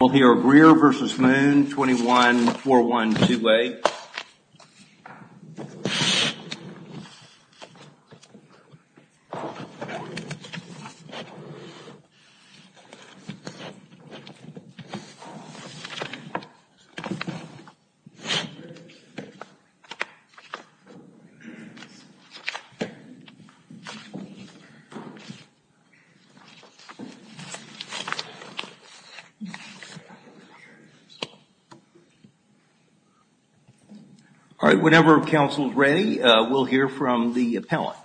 We'll hear Greer v. Moon, 21-412A. All right. Whenever counsel is ready, we'll hear from the appellant.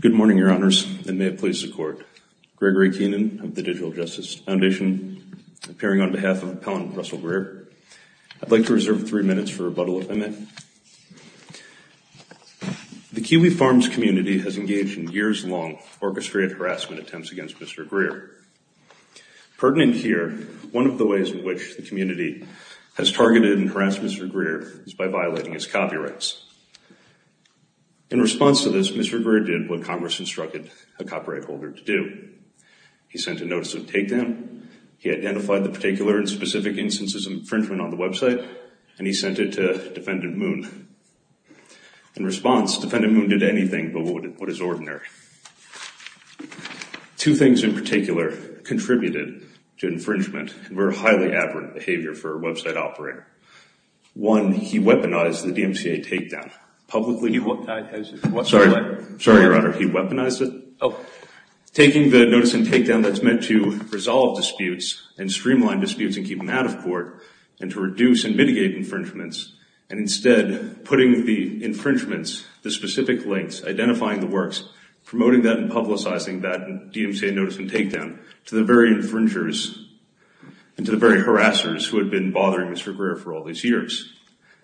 Good morning, Your Honors, and may it please the Court. Gregory Keenan of the Digital Justice Foundation, appearing on behalf of Appellant Russell Greer. I'd like to reserve three minutes for rebuttal if I may. The Kiwi Farms community has engaged in years-long orchestrated harassment attempts against Mr. Greer. Pertinent here, one of the ways in which the community has targeted and harassed Mr. Greer is by violating his copyrights. In response to this, Mr. Greer did what Congress instructed a copyright holder to do. He sent a notice of takedown, he identified the particular and specific instances of infringement on the website, and he sent it to Defendant Moon. In response, Defendant Moon did anything but what is ordinary. Two things in particular contributed to infringement were highly aberrant behavior for a website operator. One, he weaponized the DMCA takedown publicly. Sorry, Your Honor, he weaponized it. Taking the notice and takedown that's meant to resolve disputes and streamline disputes and keep them out of court, and to reduce and mitigate infringements, and instead putting the infringements, the specific links, identifying the works, promoting that and publicizing that DMCA notice and takedown to the very infringers and to the very harassers who had been bothering Mr. Greer for all these years.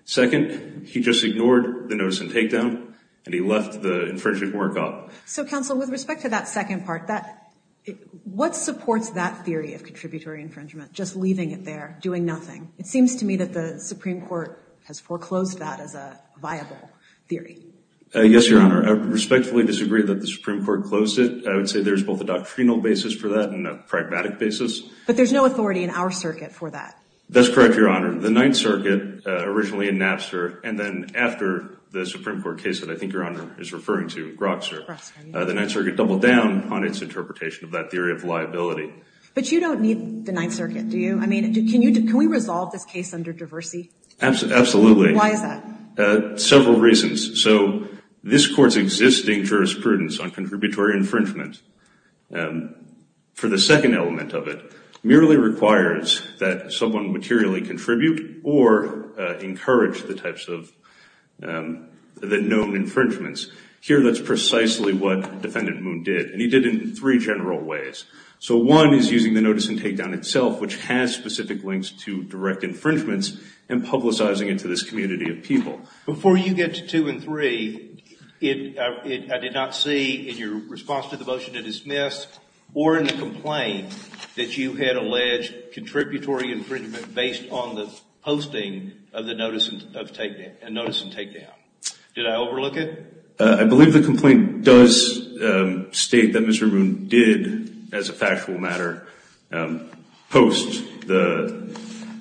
Second, he just ignored the notice and takedown and he left the infringement work up. So, Counsel, with respect to that second part, what supports that theory of contributory infringement, just leaving it there, doing nothing? It seems to me that the Supreme Court has foreclosed that as a viable theory. Yes, Your Honor. I respectfully disagree that the Supreme Court closed it. I would say there's both a doctrinal basis for that and a pragmatic basis. But there's no authority in our circuit for that. That's correct, Your Honor. The Ninth Circuit, originally in Napster, and then after the Ninth Circuit doubled down on its interpretation of that theory of liability. But you don't need the Ninth Circuit, do you? I mean, can we resolve this case under diversity? Absolutely. Why is that? Several reasons. So, this Court's existing jurisprudence on contributory infringement, for the second element of it, merely requires that someone materially contribute or encourage the types of known infringements. Here, that's precisely what Defendant Moon did, and he did it in three general ways. So, one is using the notice and takedown itself, which has specific links to direct infringements, and publicizing it to this community of people. Before you get to two and three, I did not see, in your response to the motion to dismiss, or in the complaint, that you had alleged contributory infringement based on the posting of the notice and takedown. Did I overlook it? I believe the complaint does state that Mr. Moon did, as a factual matter, post the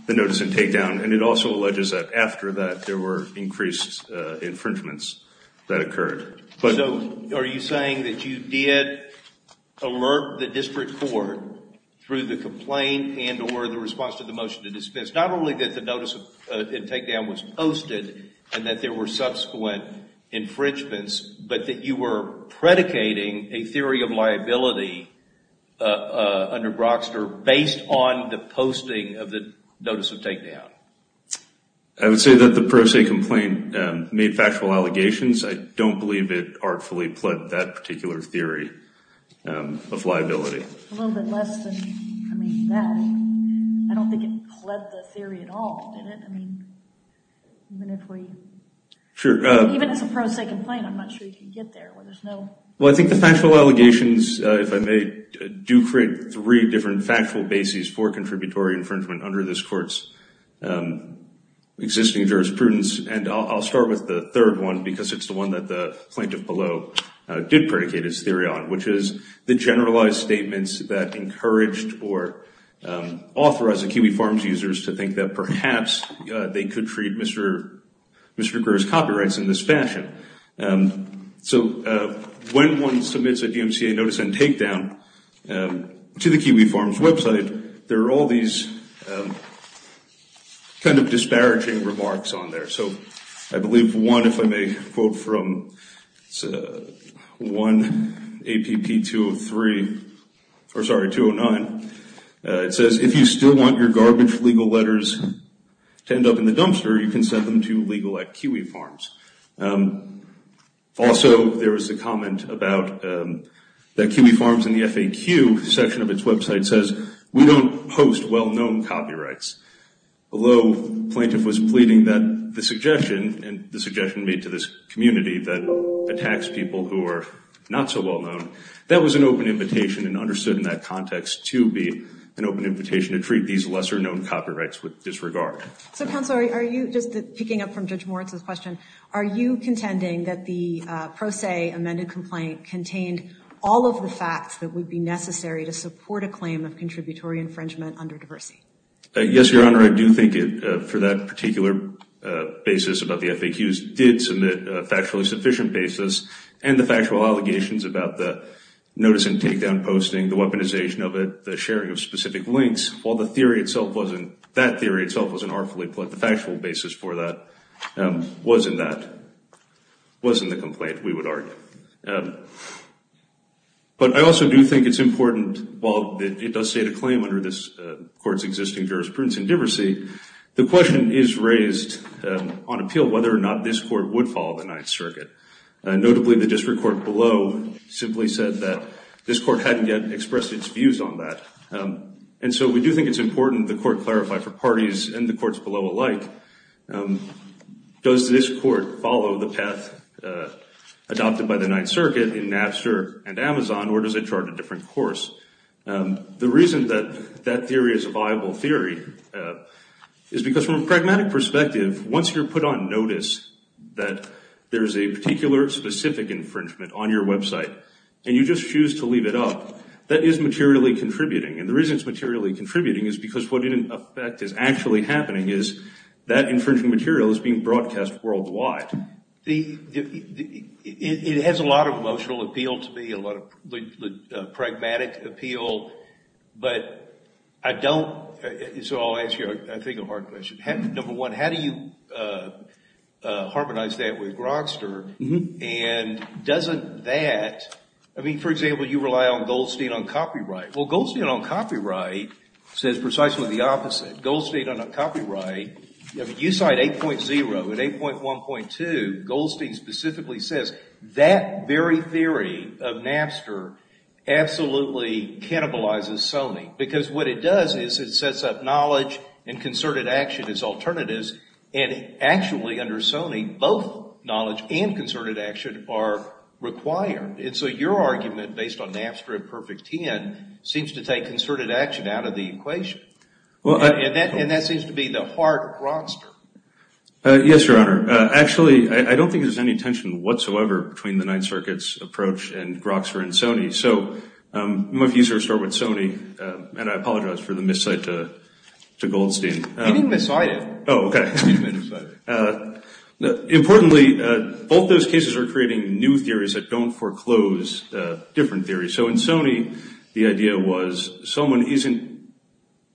notice and takedown, and it also alleges that after that, there were increased infringements that occurred. So, are you saying that you did alert the District Court through the complaint and or the response to the motion to dismiss, not only that the notice and takedown was posted, and that there were subsequent infringements, but that you were predicating a theory of liability under Broxner, based on the posting of the notice and takedown? I would say that the Pro Se Complaint made factual allegations. I don't believe it artfully pled that particular theory of liability. A little bit less than, I mean, that. I don't think it pled the theory at all, did it? I mean, even if we, even if it's a Pro Se Complaint, I'm not sure you can get there. Well, I think the factual allegations, if I may, do create three different factual bases for contributory infringement under this Court's existing jurisprudence, and I'll start with the third one, because it's the one that the Plaintiff below did predicate his theory on, which is the generalized statements that encouraged or authorized the Kiwi Farms users to think that perhaps they could treat Mr. Greer's copyrights in this fashion. So when one submits a DMCA notice and takedown to the Kiwi Farms website, there are all these kind of disparaging remarks on there. So I believe one, if I may quote from 1 APP 203, or sorry, 209, it says, if you still want your garbage legal letters to end up in the dumpster, you can send them to legal at Kiwi Farms. Also there was a comment about the Kiwi Farms and the FAQ section of its website says, we don't host well-known copyrights, although the Plaintiff was pleading that the suggestion, and the suggestion made to this community that attacks people who are not so well-known, that was an open invitation and understood in that context to be an open invitation to treat these lesser-known copyrights with disregard. So, Counselor, are you, just picking up from Judge Moritz's question, are you contending that the pro se amended complaint contained all of the facts that would be necessary to infringement under diversity? Yes, Your Honor, I do think it, for that particular basis about the FAQs, did submit a factually sufficient basis, and the factual allegations about the notice and takedown posting, the weaponization of it, the sharing of specific links, while the theory itself wasn't, that theory itself wasn't artfully put, the factual basis for that was in that, was in the complaint, we would argue. But I also do think it's important, while it does state a claim under this Court's existing jurisprudence in diversity, the question is raised on appeal whether or not this Court would follow the Ninth Circuit, notably the District Court below simply said that this Court hadn't yet expressed its views on that. And so we do think it's important the Court clarify for parties and the Courts below alike, does this Court follow the path adopted by the Ninth Circuit in Napster and Amazon, or does it chart a different course? The reason that that theory is a viable theory is because from a pragmatic perspective, once you're put on notice that there's a particular specific infringement on your website, and you just choose to leave it up, that is materially contributing. And the reason it's materially contributing is because what in effect is actually happening is that infringement material is being broadcast worldwide. The, it has a lot of emotional appeal to me, a lot of pragmatic appeal, but I don't, so I'll ask you I think a hard question, number one, how do you harmonize that with Grogster and doesn't that, I mean, for example, you rely on gold state on copyright, well gold state on a copyright, you cite 8.0 and 8.1.2, gold state specifically says that very theory of Napster absolutely cannibalizes Sony, because what it does is it sets up knowledge and concerted action as alternatives, and actually under Sony, both knowledge and concerted action are required. And so your argument based on Napster and Perfect Ten seems to take concerted action out of the equation. And that seems to be the heart of Grogster. Yes, Your Honor. Actually, I don't think there's any tension whatsoever between the Ninth Circuit's approach and Grogster and Sony, so I'm going to have to start with Sony, and I apologize for the miscite to Goldstein. You didn't miscite it. Oh, okay. You didn't miscite it. Importantly, both those cases are creating new theories that don't foreclose different theories. So in Sony, the idea was someone isn't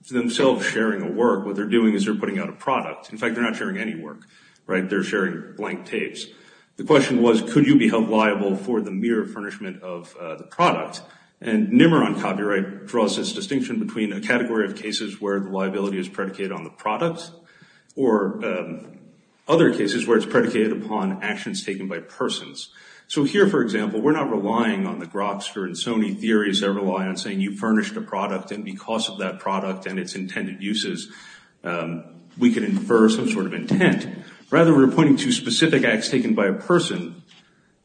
themselves sharing a work, what they're doing is they're putting out a product. In fact, they're not sharing any work, right? They're sharing blank tapes. The question was, could you be held liable for the mere furnishment of the product? And NIMR on copyright draws this distinction between a category of cases where the liability is predicated on the product, or other cases where it's predicated upon actions taken by persons. So here, for example, we're not relying on the Grogster and Sony theories that rely on saying you furnished a product, and because of that product and its intended uses, we could infer some sort of intent. Rather, we're pointing to specific acts taken by a person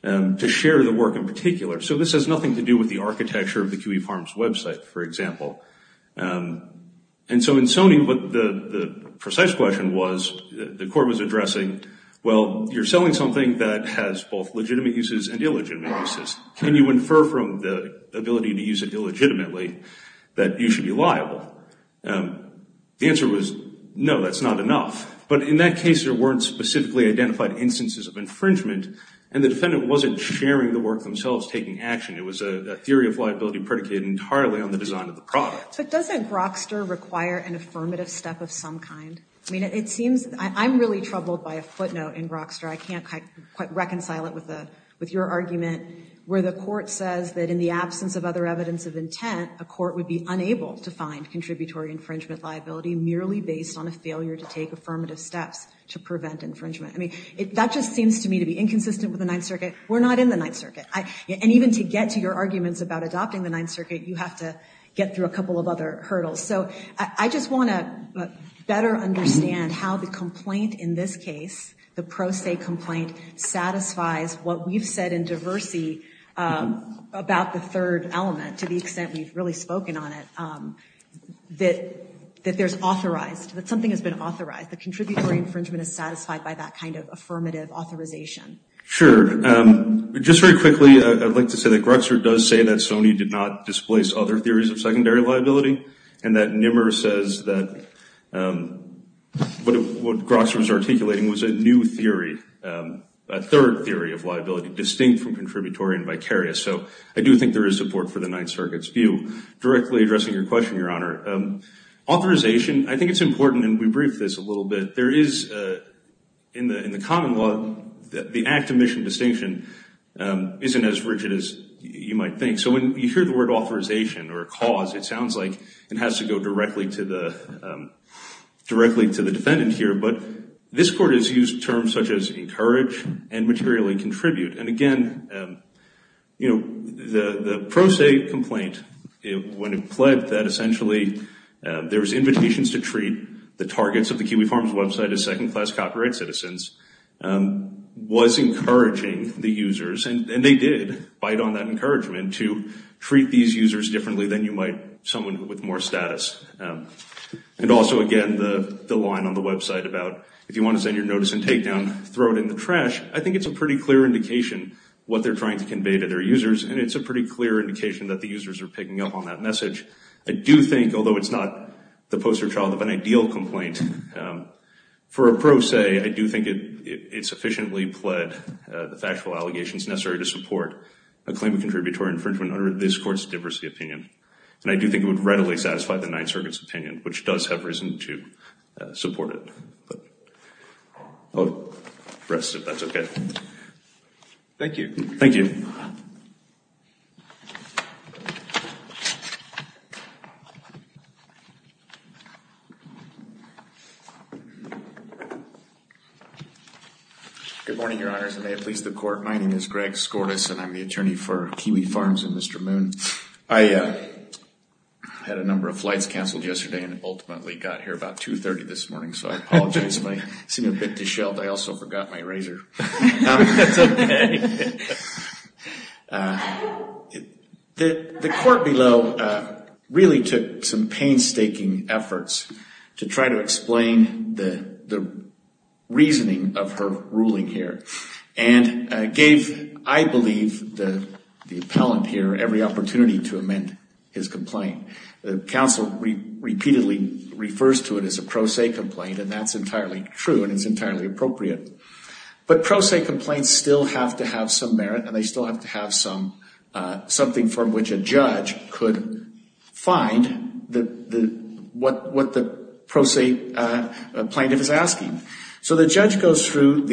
to share the work in particular. So this has nothing to do with the architecture of the QE Farms website, for example. And so in Sony, the precise question was, the court was addressing, well, you're selling something that has both legitimate uses and illegitimate uses. Can you infer from the ability to use it illegitimately that you should be liable? The answer was, no, that's not enough. But in that case, there weren't specifically identified instances of infringement, and the defendant wasn't sharing the work themselves, taking action. It was a theory of liability predicated entirely on the design of the product. But doesn't Grogster require an affirmative step of some kind? I mean, it seems I'm really troubled by a footnote in Grogster. I can't quite reconcile it with your argument, where the court says that in the absence of other evidence of intent, a court would be unable to find contributory infringement liability merely based on a failure to take affirmative steps to prevent infringement. I mean, that just seems to me to be inconsistent with the Ninth Circuit. We're not in the Ninth Circuit. And even to get to your arguments about adopting the Ninth Circuit, you have to get through a couple of other hurdles. So I just want to better understand how the complaint in this case, the pro se complaint, satisfies what we've said in diversity about the third element, to the extent we've really spoken on it, that there's authorized, that something has been authorized, that contributory infringement is satisfied by that kind of affirmative authorization. Sure. Just very quickly, I'd like to say that Grogster does say that Sony did not displace other theories of secondary liability, and that Nimmer says that what Grogster was articulating was a new theory, a third theory of liability, distinct from contributory and vicarious. So I do think there is support for the Ninth Circuit's view. Directly addressing your question, Your Honor, authorization, I think it's important, and we briefed this a little bit, there is, in the common law, the act of mission distinction isn't as rigid as you might think. So when you hear the word authorization or cause, it sounds like it has to go directly to the defendant here, but this Court has used terms such as encourage and materially contribute. And again, the pro se complaint, when it pled that essentially there's invitations to treat the targets of the Kiwi Farms website as second class copyright citizens, was encouraging the users, and they did bite on that encouragement to treat these users differently than you might someone with more status. And also, again, the line on the website about if you want to send your notice and takedown, throw it in the trash, I think it's a pretty clear indication what they're trying to convey to their users, and it's a pretty clear indication that the users are picking up on that message. I do think, although it's not the poster child of an ideal complaint, for a pro se, I do think it would readily satisfy the Ninth Circuit's opinion, which does have reason to support it. I'll rest, if that's okay. Thank you. Thank you. Good morning, Your Honors, and may it please the Court, my name is Greg Skourtis, and I'm the attorney for Kiwi Farms and Mr. Moon. I had a number of flights canceled yesterday and ultimately got here about 2.30 this morning, so I apologize if I seem a bit disheveled, I also forgot my razor. That's okay. The Court below really took some painstaking efforts to try to explain the reasoning of her ruling here, and gave, I believe, the appellant here every opportunity to amend his complaint. The counsel repeatedly refers to it as a pro se complaint, and that's entirely true and it's entirely appropriate. But pro se complaints still have to have some merit, and they still have to have something from which a judge could find what the pro se plaintiff is asking. So the judge goes through,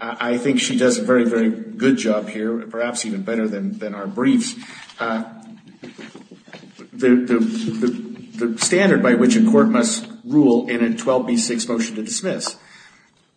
I think she does a very, very good job here, perhaps even better than our briefs, the standard by which a court must rule in a 12B6 motion to dismiss,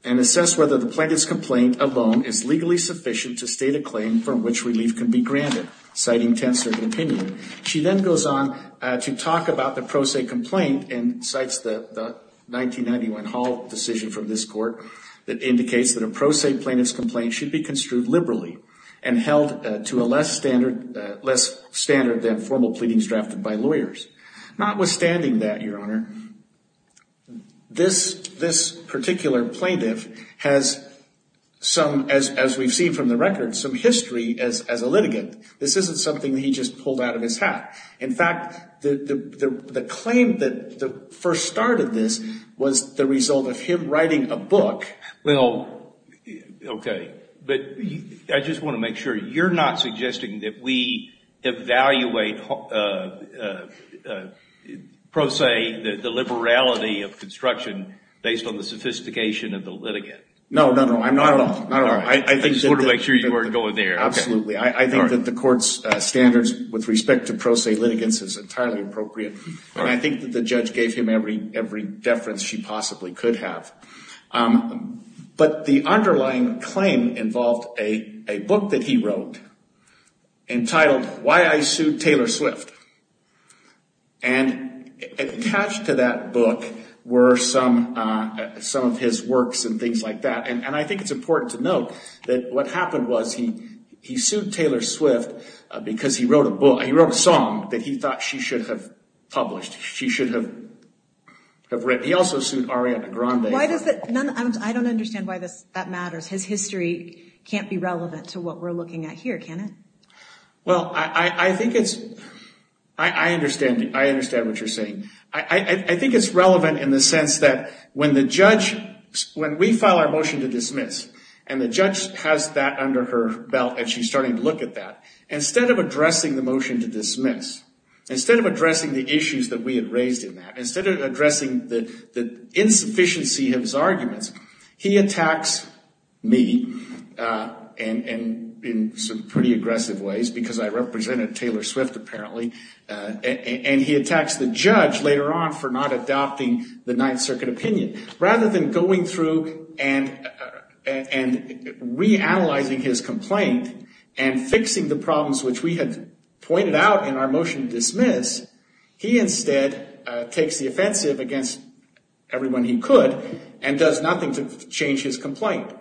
and assess whether the plaintiff's complaint alone is legally sufficient to state a claim from which relief can be granted, citing tenth circuit opinion. She then goes on to talk about the pro se complaint and cites the 1991 Hall decision from this Court that indicates that a pro se plaintiff's complaint should be construed liberally and held to a less standard than formal pleadings drafted by lawyers. Notwithstanding that, Your Honor, this particular plaintiff has some, as we've seen from the record, some history as a litigant. This isn't something that he just pulled out of his hat. In fact, the claim that first started this was the result of him writing a book. Well, okay. But I just want to make sure, you're not suggesting that we evaluate pro se, the liberality of construction, based on the sophistication of the litigant? No, no, no. I'm not at all. I just wanted to make sure you weren't going there. Absolutely. I think that the Court's standards with respect to pro se litigants is entirely appropriate. And I think that the judge gave him every deference she possibly could have. But the underlying claim involved a book that he wrote entitled Why I Sued Taylor Swift. And attached to that book were some of his works and things like that. And I think it's important to note that what happened was he sued Taylor Swift because he wrote a song that he thought she should have published, she should have written. He also sued Ariana Grande. I don't understand why that matters. His history can't be relevant to what we're looking at here, can it? Well, I think it's... I understand what you're saying. I think it's relevant in the sense that when we file our motion to dismiss, and the judge has that under her belt and she's starting to look at that. Instead of addressing the motion to dismiss, instead of addressing the issues that we had raised in that, instead of addressing the insufficiency of his arguments, he attacks me in some pretty aggressive ways because I represented Taylor Swift, apparently. And he attacks the judge later on for not adopting the Ninth Circuit opinion. Rather than going through and reanalyzing his complaint and fixing the problems which we had pointed out in our motion to dismiss, he instead takes the offensive against everyone he could and does nothing to change his complaint.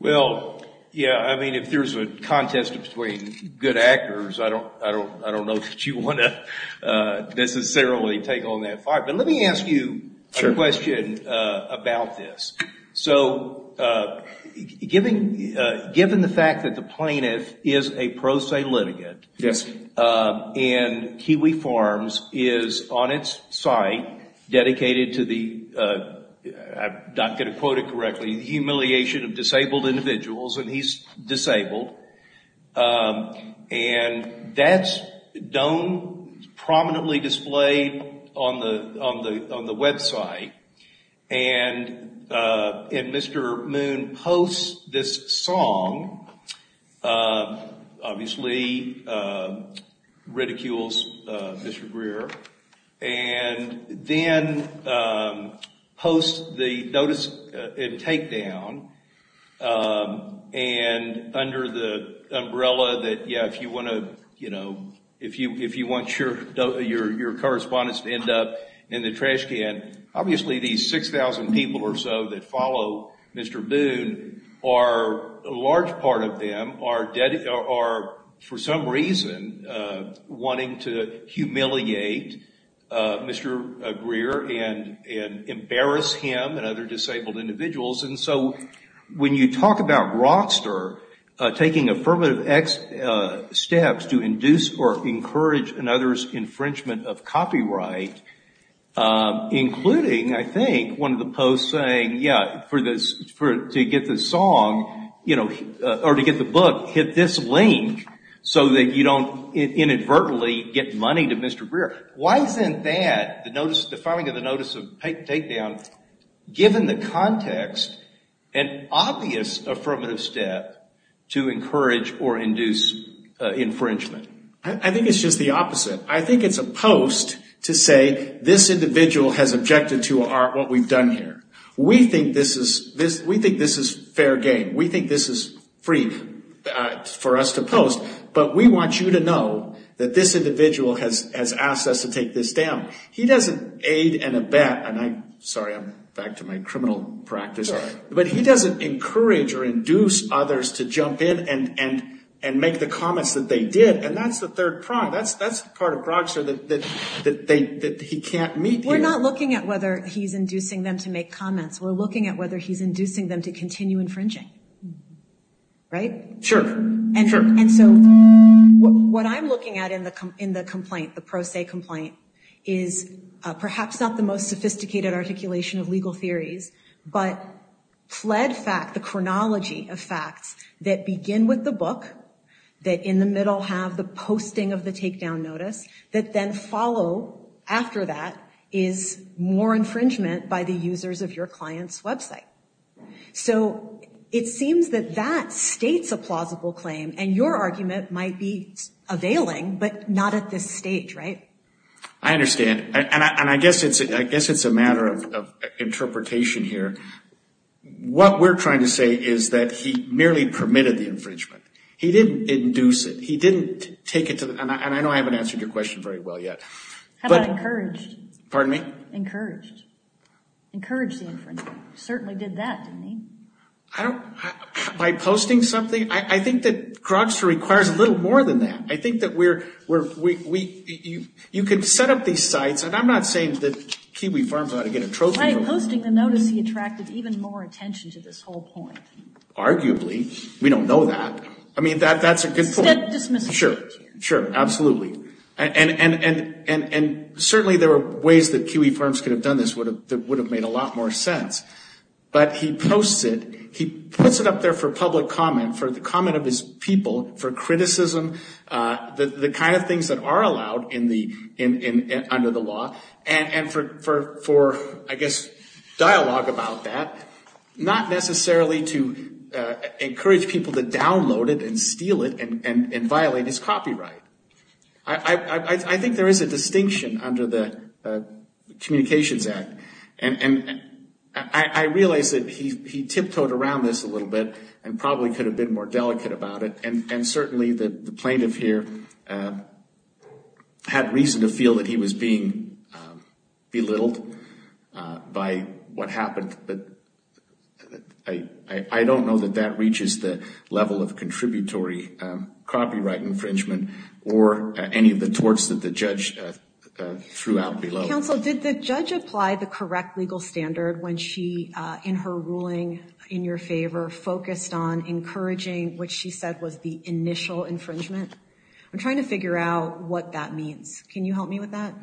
Well, yeah. I mean, if there's a contest between good actors, I don't know that you want to necessarily take on that fight. But let me ask you a question about this. So given the fact that the plaintiff is a pro se litigant, and Kiwi Farms is on its site dedicated to the, I'm not going to quote it correctly, the humiliation of disabled on the website, and Mr. Moon posts this song, obviously ridicules Mr. Greer, and then posts the notice and takedown, and under the umbrella that, yeah, if you want your correspondents to end up in the trash can, obviously these 6,000 people or so that follow Mr. Boone are, a large part of them, are for some reason wanting to humiliate Mr. Greer and embarrass him and other disabled individuals. And so when you talk about Rockster taking affirmative steps to induce or encourage another's copyright, including, I think, one of the posts saying, yeah, to get the song, or to get the book, hit this link so that you don't inadvertently get money to Mr. Greer. Why isn't that, the filing of the notice of takedown, given the context, an obvious affirmative step to encourage or induce infringement? I think it's just the opposite. I think it's a post to say, this individual has objected to what we've done here. We think this is fair game. We think this is free for us to post, but we want you to know that this individual has asked us to take this down. He doesn't aid and abet, and I'm sorry, I'm back to my criminal practice, but he doesn't encourage or induce others to jump in and make the comments that they did, and that's the third prong. That's part of Rockster that he can't meet here. We're not looking at whether he's inducing them to make comments. We're looking at whether he's inducing them to continue infringing, right? Sure, sure. And so what I'm looking at in the complaint, the pro se complaint, is perhaps not the most sophisticated articulation of legal theories, but fled fact, the chronology of facts that begin with the book, that in the middle have the posting of the takedown notice, that then follow after that is more infringement by the users of your client's website. So it seems that that states a plausible claim, and your argument might be availing, but not at this stage, right? I understand, and I guess it's a matter of interpretation here. What we're trying to say is that he merely permitted the infringement. He didn't induce it. He didn't take it to the, and I know I haven't answered your question very well yet. How about encouraged? Pardon me? Encouraged. Encouraged the infringement. Certainly did that, didn't he? I don't, by posting something, I think that Rockster requires a little more than that. I think that we're, we, you can set up these sites, and I'm not saying that Kiwi Farms ought to get a trophy. By posting the notice, he attracted even more attention to this whole point. Arguably. We don't know that. I mean, that's a good point. Step dismissive. Sure, sure, absolutely. And certainly there are ways that Kiwi Farms could have done this that would have made a lot more sense. But he posts it, he puts it up there for public comment, for the comment of his people, for criticism, the kind of things that are allowed under the law, and for, I guess, dialogue about that. Not necessarily to encourage people to download it and steal it and violate his copyright. I think there is a distinction under the Communications Act. And I realize that he tiptoed around this a little bit and probably could have been more delicate about it. And certainly the plaintiff here had reason to feel that he was being belittled by what happened. But I don't know that that reaches the level of contributory copyright infringement or any of the torts that the judge threw out below. Counsel, did the judge apply the correct legal standard when she, in her ruling in your favor, focused on encouraging what she said was the initial infringement? I'm trying to figure out what that means. Can you help me with that?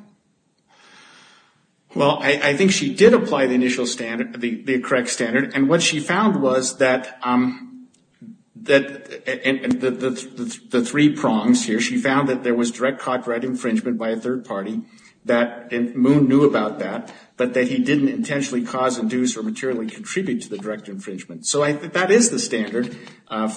Well, I think she did apply the initial standard, the correct standard. And what she found was that the three prongs here, she found that there was direct copyright infringement by a third party, that Moon knew about that, but that he didn't intentionally cause, induce, or materially contribute to the direct infringement. So I think that is the standard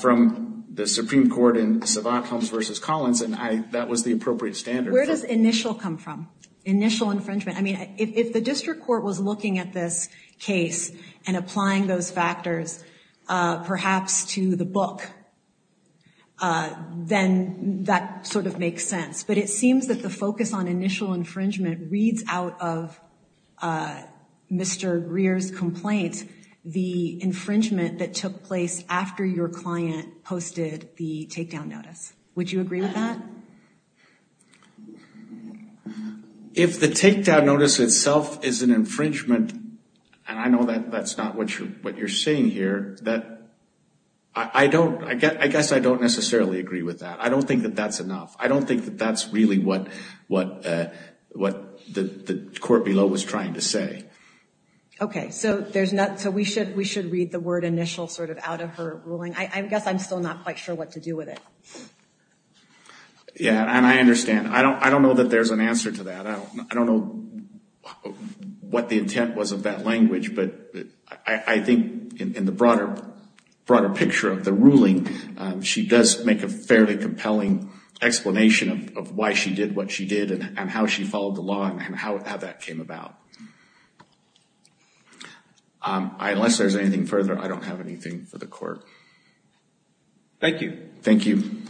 from the Supreme Court in Savant Holmes v. Collins, and that was the appropriate standard. Where does initial come from? Initial infringement? I mean, if the district court was looking at this case and applying those factors perhaps to the book, then that sort of makes sense. But it seems that the focus on initial infringement reads out of Mr. Greer's complaint, the infringement that took place after your client posted the takedown notice. Would you agree with that? If the takedown notice itself is an infringement, and I know that that's not what you're saying here, that I don't, I guess I don't necessarily agree with that. I don't think that that's enough. I don't think that that's really what the court below was trying to say. Okay, so we should read the word initial sort of out of her ruling. I guess I'm still not quite sure what to do with it. Yeah, and I understand. I don't know that there's an answer to that. I don't know what the intent was of that language, but I think in the broader picture of the ruling, she does make a fairly compelling explanation of why she did what she did and how she followed the law and how that came about. So, unless there's anything further, I don't have anything for the court. Thank you. Thank you.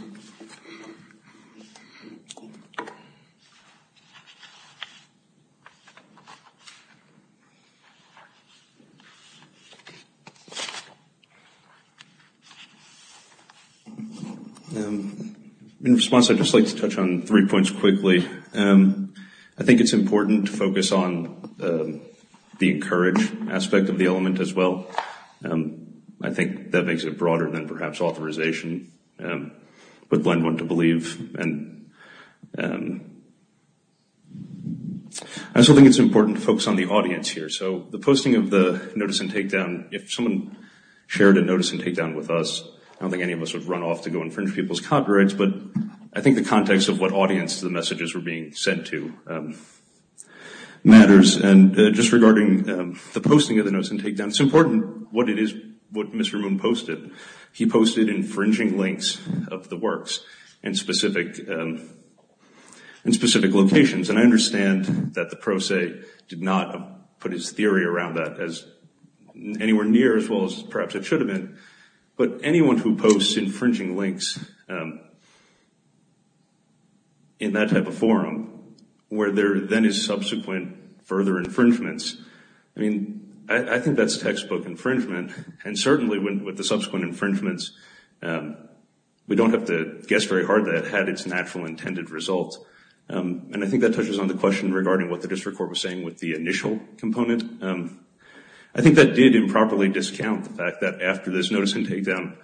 In response, I'd just like to touch on three points quickly. I think it's important to focus on the encouraged aspect of the element as well. I think that makes it broader than perhaps authorization would lend one to believe. I also think it's important to focus on the audience here. So, the posting of the notice and takedown, if someone shared a notice and takedown with us, I don't think any of us would run off to go infringe people's copyrights, I think the context of what audience the messages were being sent to matters. And just regarding the posting of the notice and takedown, it's important what it is, what Mr. Moon posted. He posted infringing links of the works in specific locations. And I understand that the pro se did not put his theory around that as anywhere near as well as perhaps it should have been. But anyone who posts infringing links in that type of forum, where there then is subsequent further infringements, I mean, I think that's textbook infringement. And certainly with the subsequent infringements, we don't have to guess very hard that it had its natural intended result. And I think that touches on the question regarding what the district court was saying with the initial component. I think that did improperly discount the fact that after this notice and takedown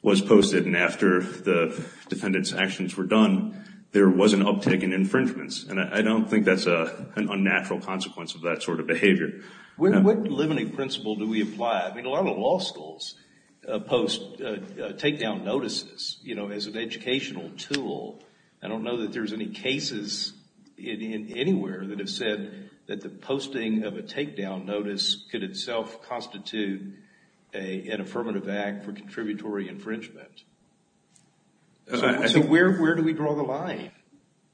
was posted and after the defendant's actions were done, there was an uptick in infringements. And I don't think that's an unnatural consequence of that sort of behavior. What limiting principle do we apply? I mean, a lot of law schools post takedown notices, you know, as an educational tool. I don't know that there's any cases anywhere that have said that the posting of a takedown notice could itself constitute an affirmative act for contributory infringement. So where do we draw the line?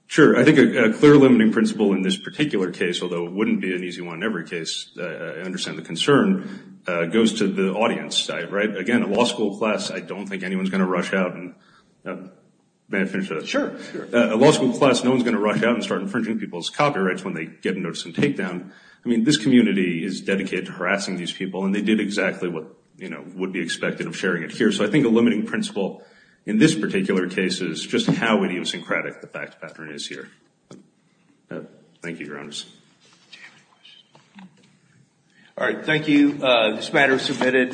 Sure. I think a clear limiting principle in this particular case, although it wouldn't be an easy one in every case, I understand the concern, goes to the audience side, right? Again, a law school class, I don't think anyone's going to rush out and... May I finish that? Sure, sure. A law school class, no one's going to rush out and start infringing people's copyrights when they get a notice and takedown. I mean, this community is dedicated to harassing these people and they did exactly what, you know, would be expected of sharing it here. So I think a limiting principle in this particular case is just how idiosyncratic the fact pattern is here. Thank you, Your Honors. All right. Thank you. This matter is submitted.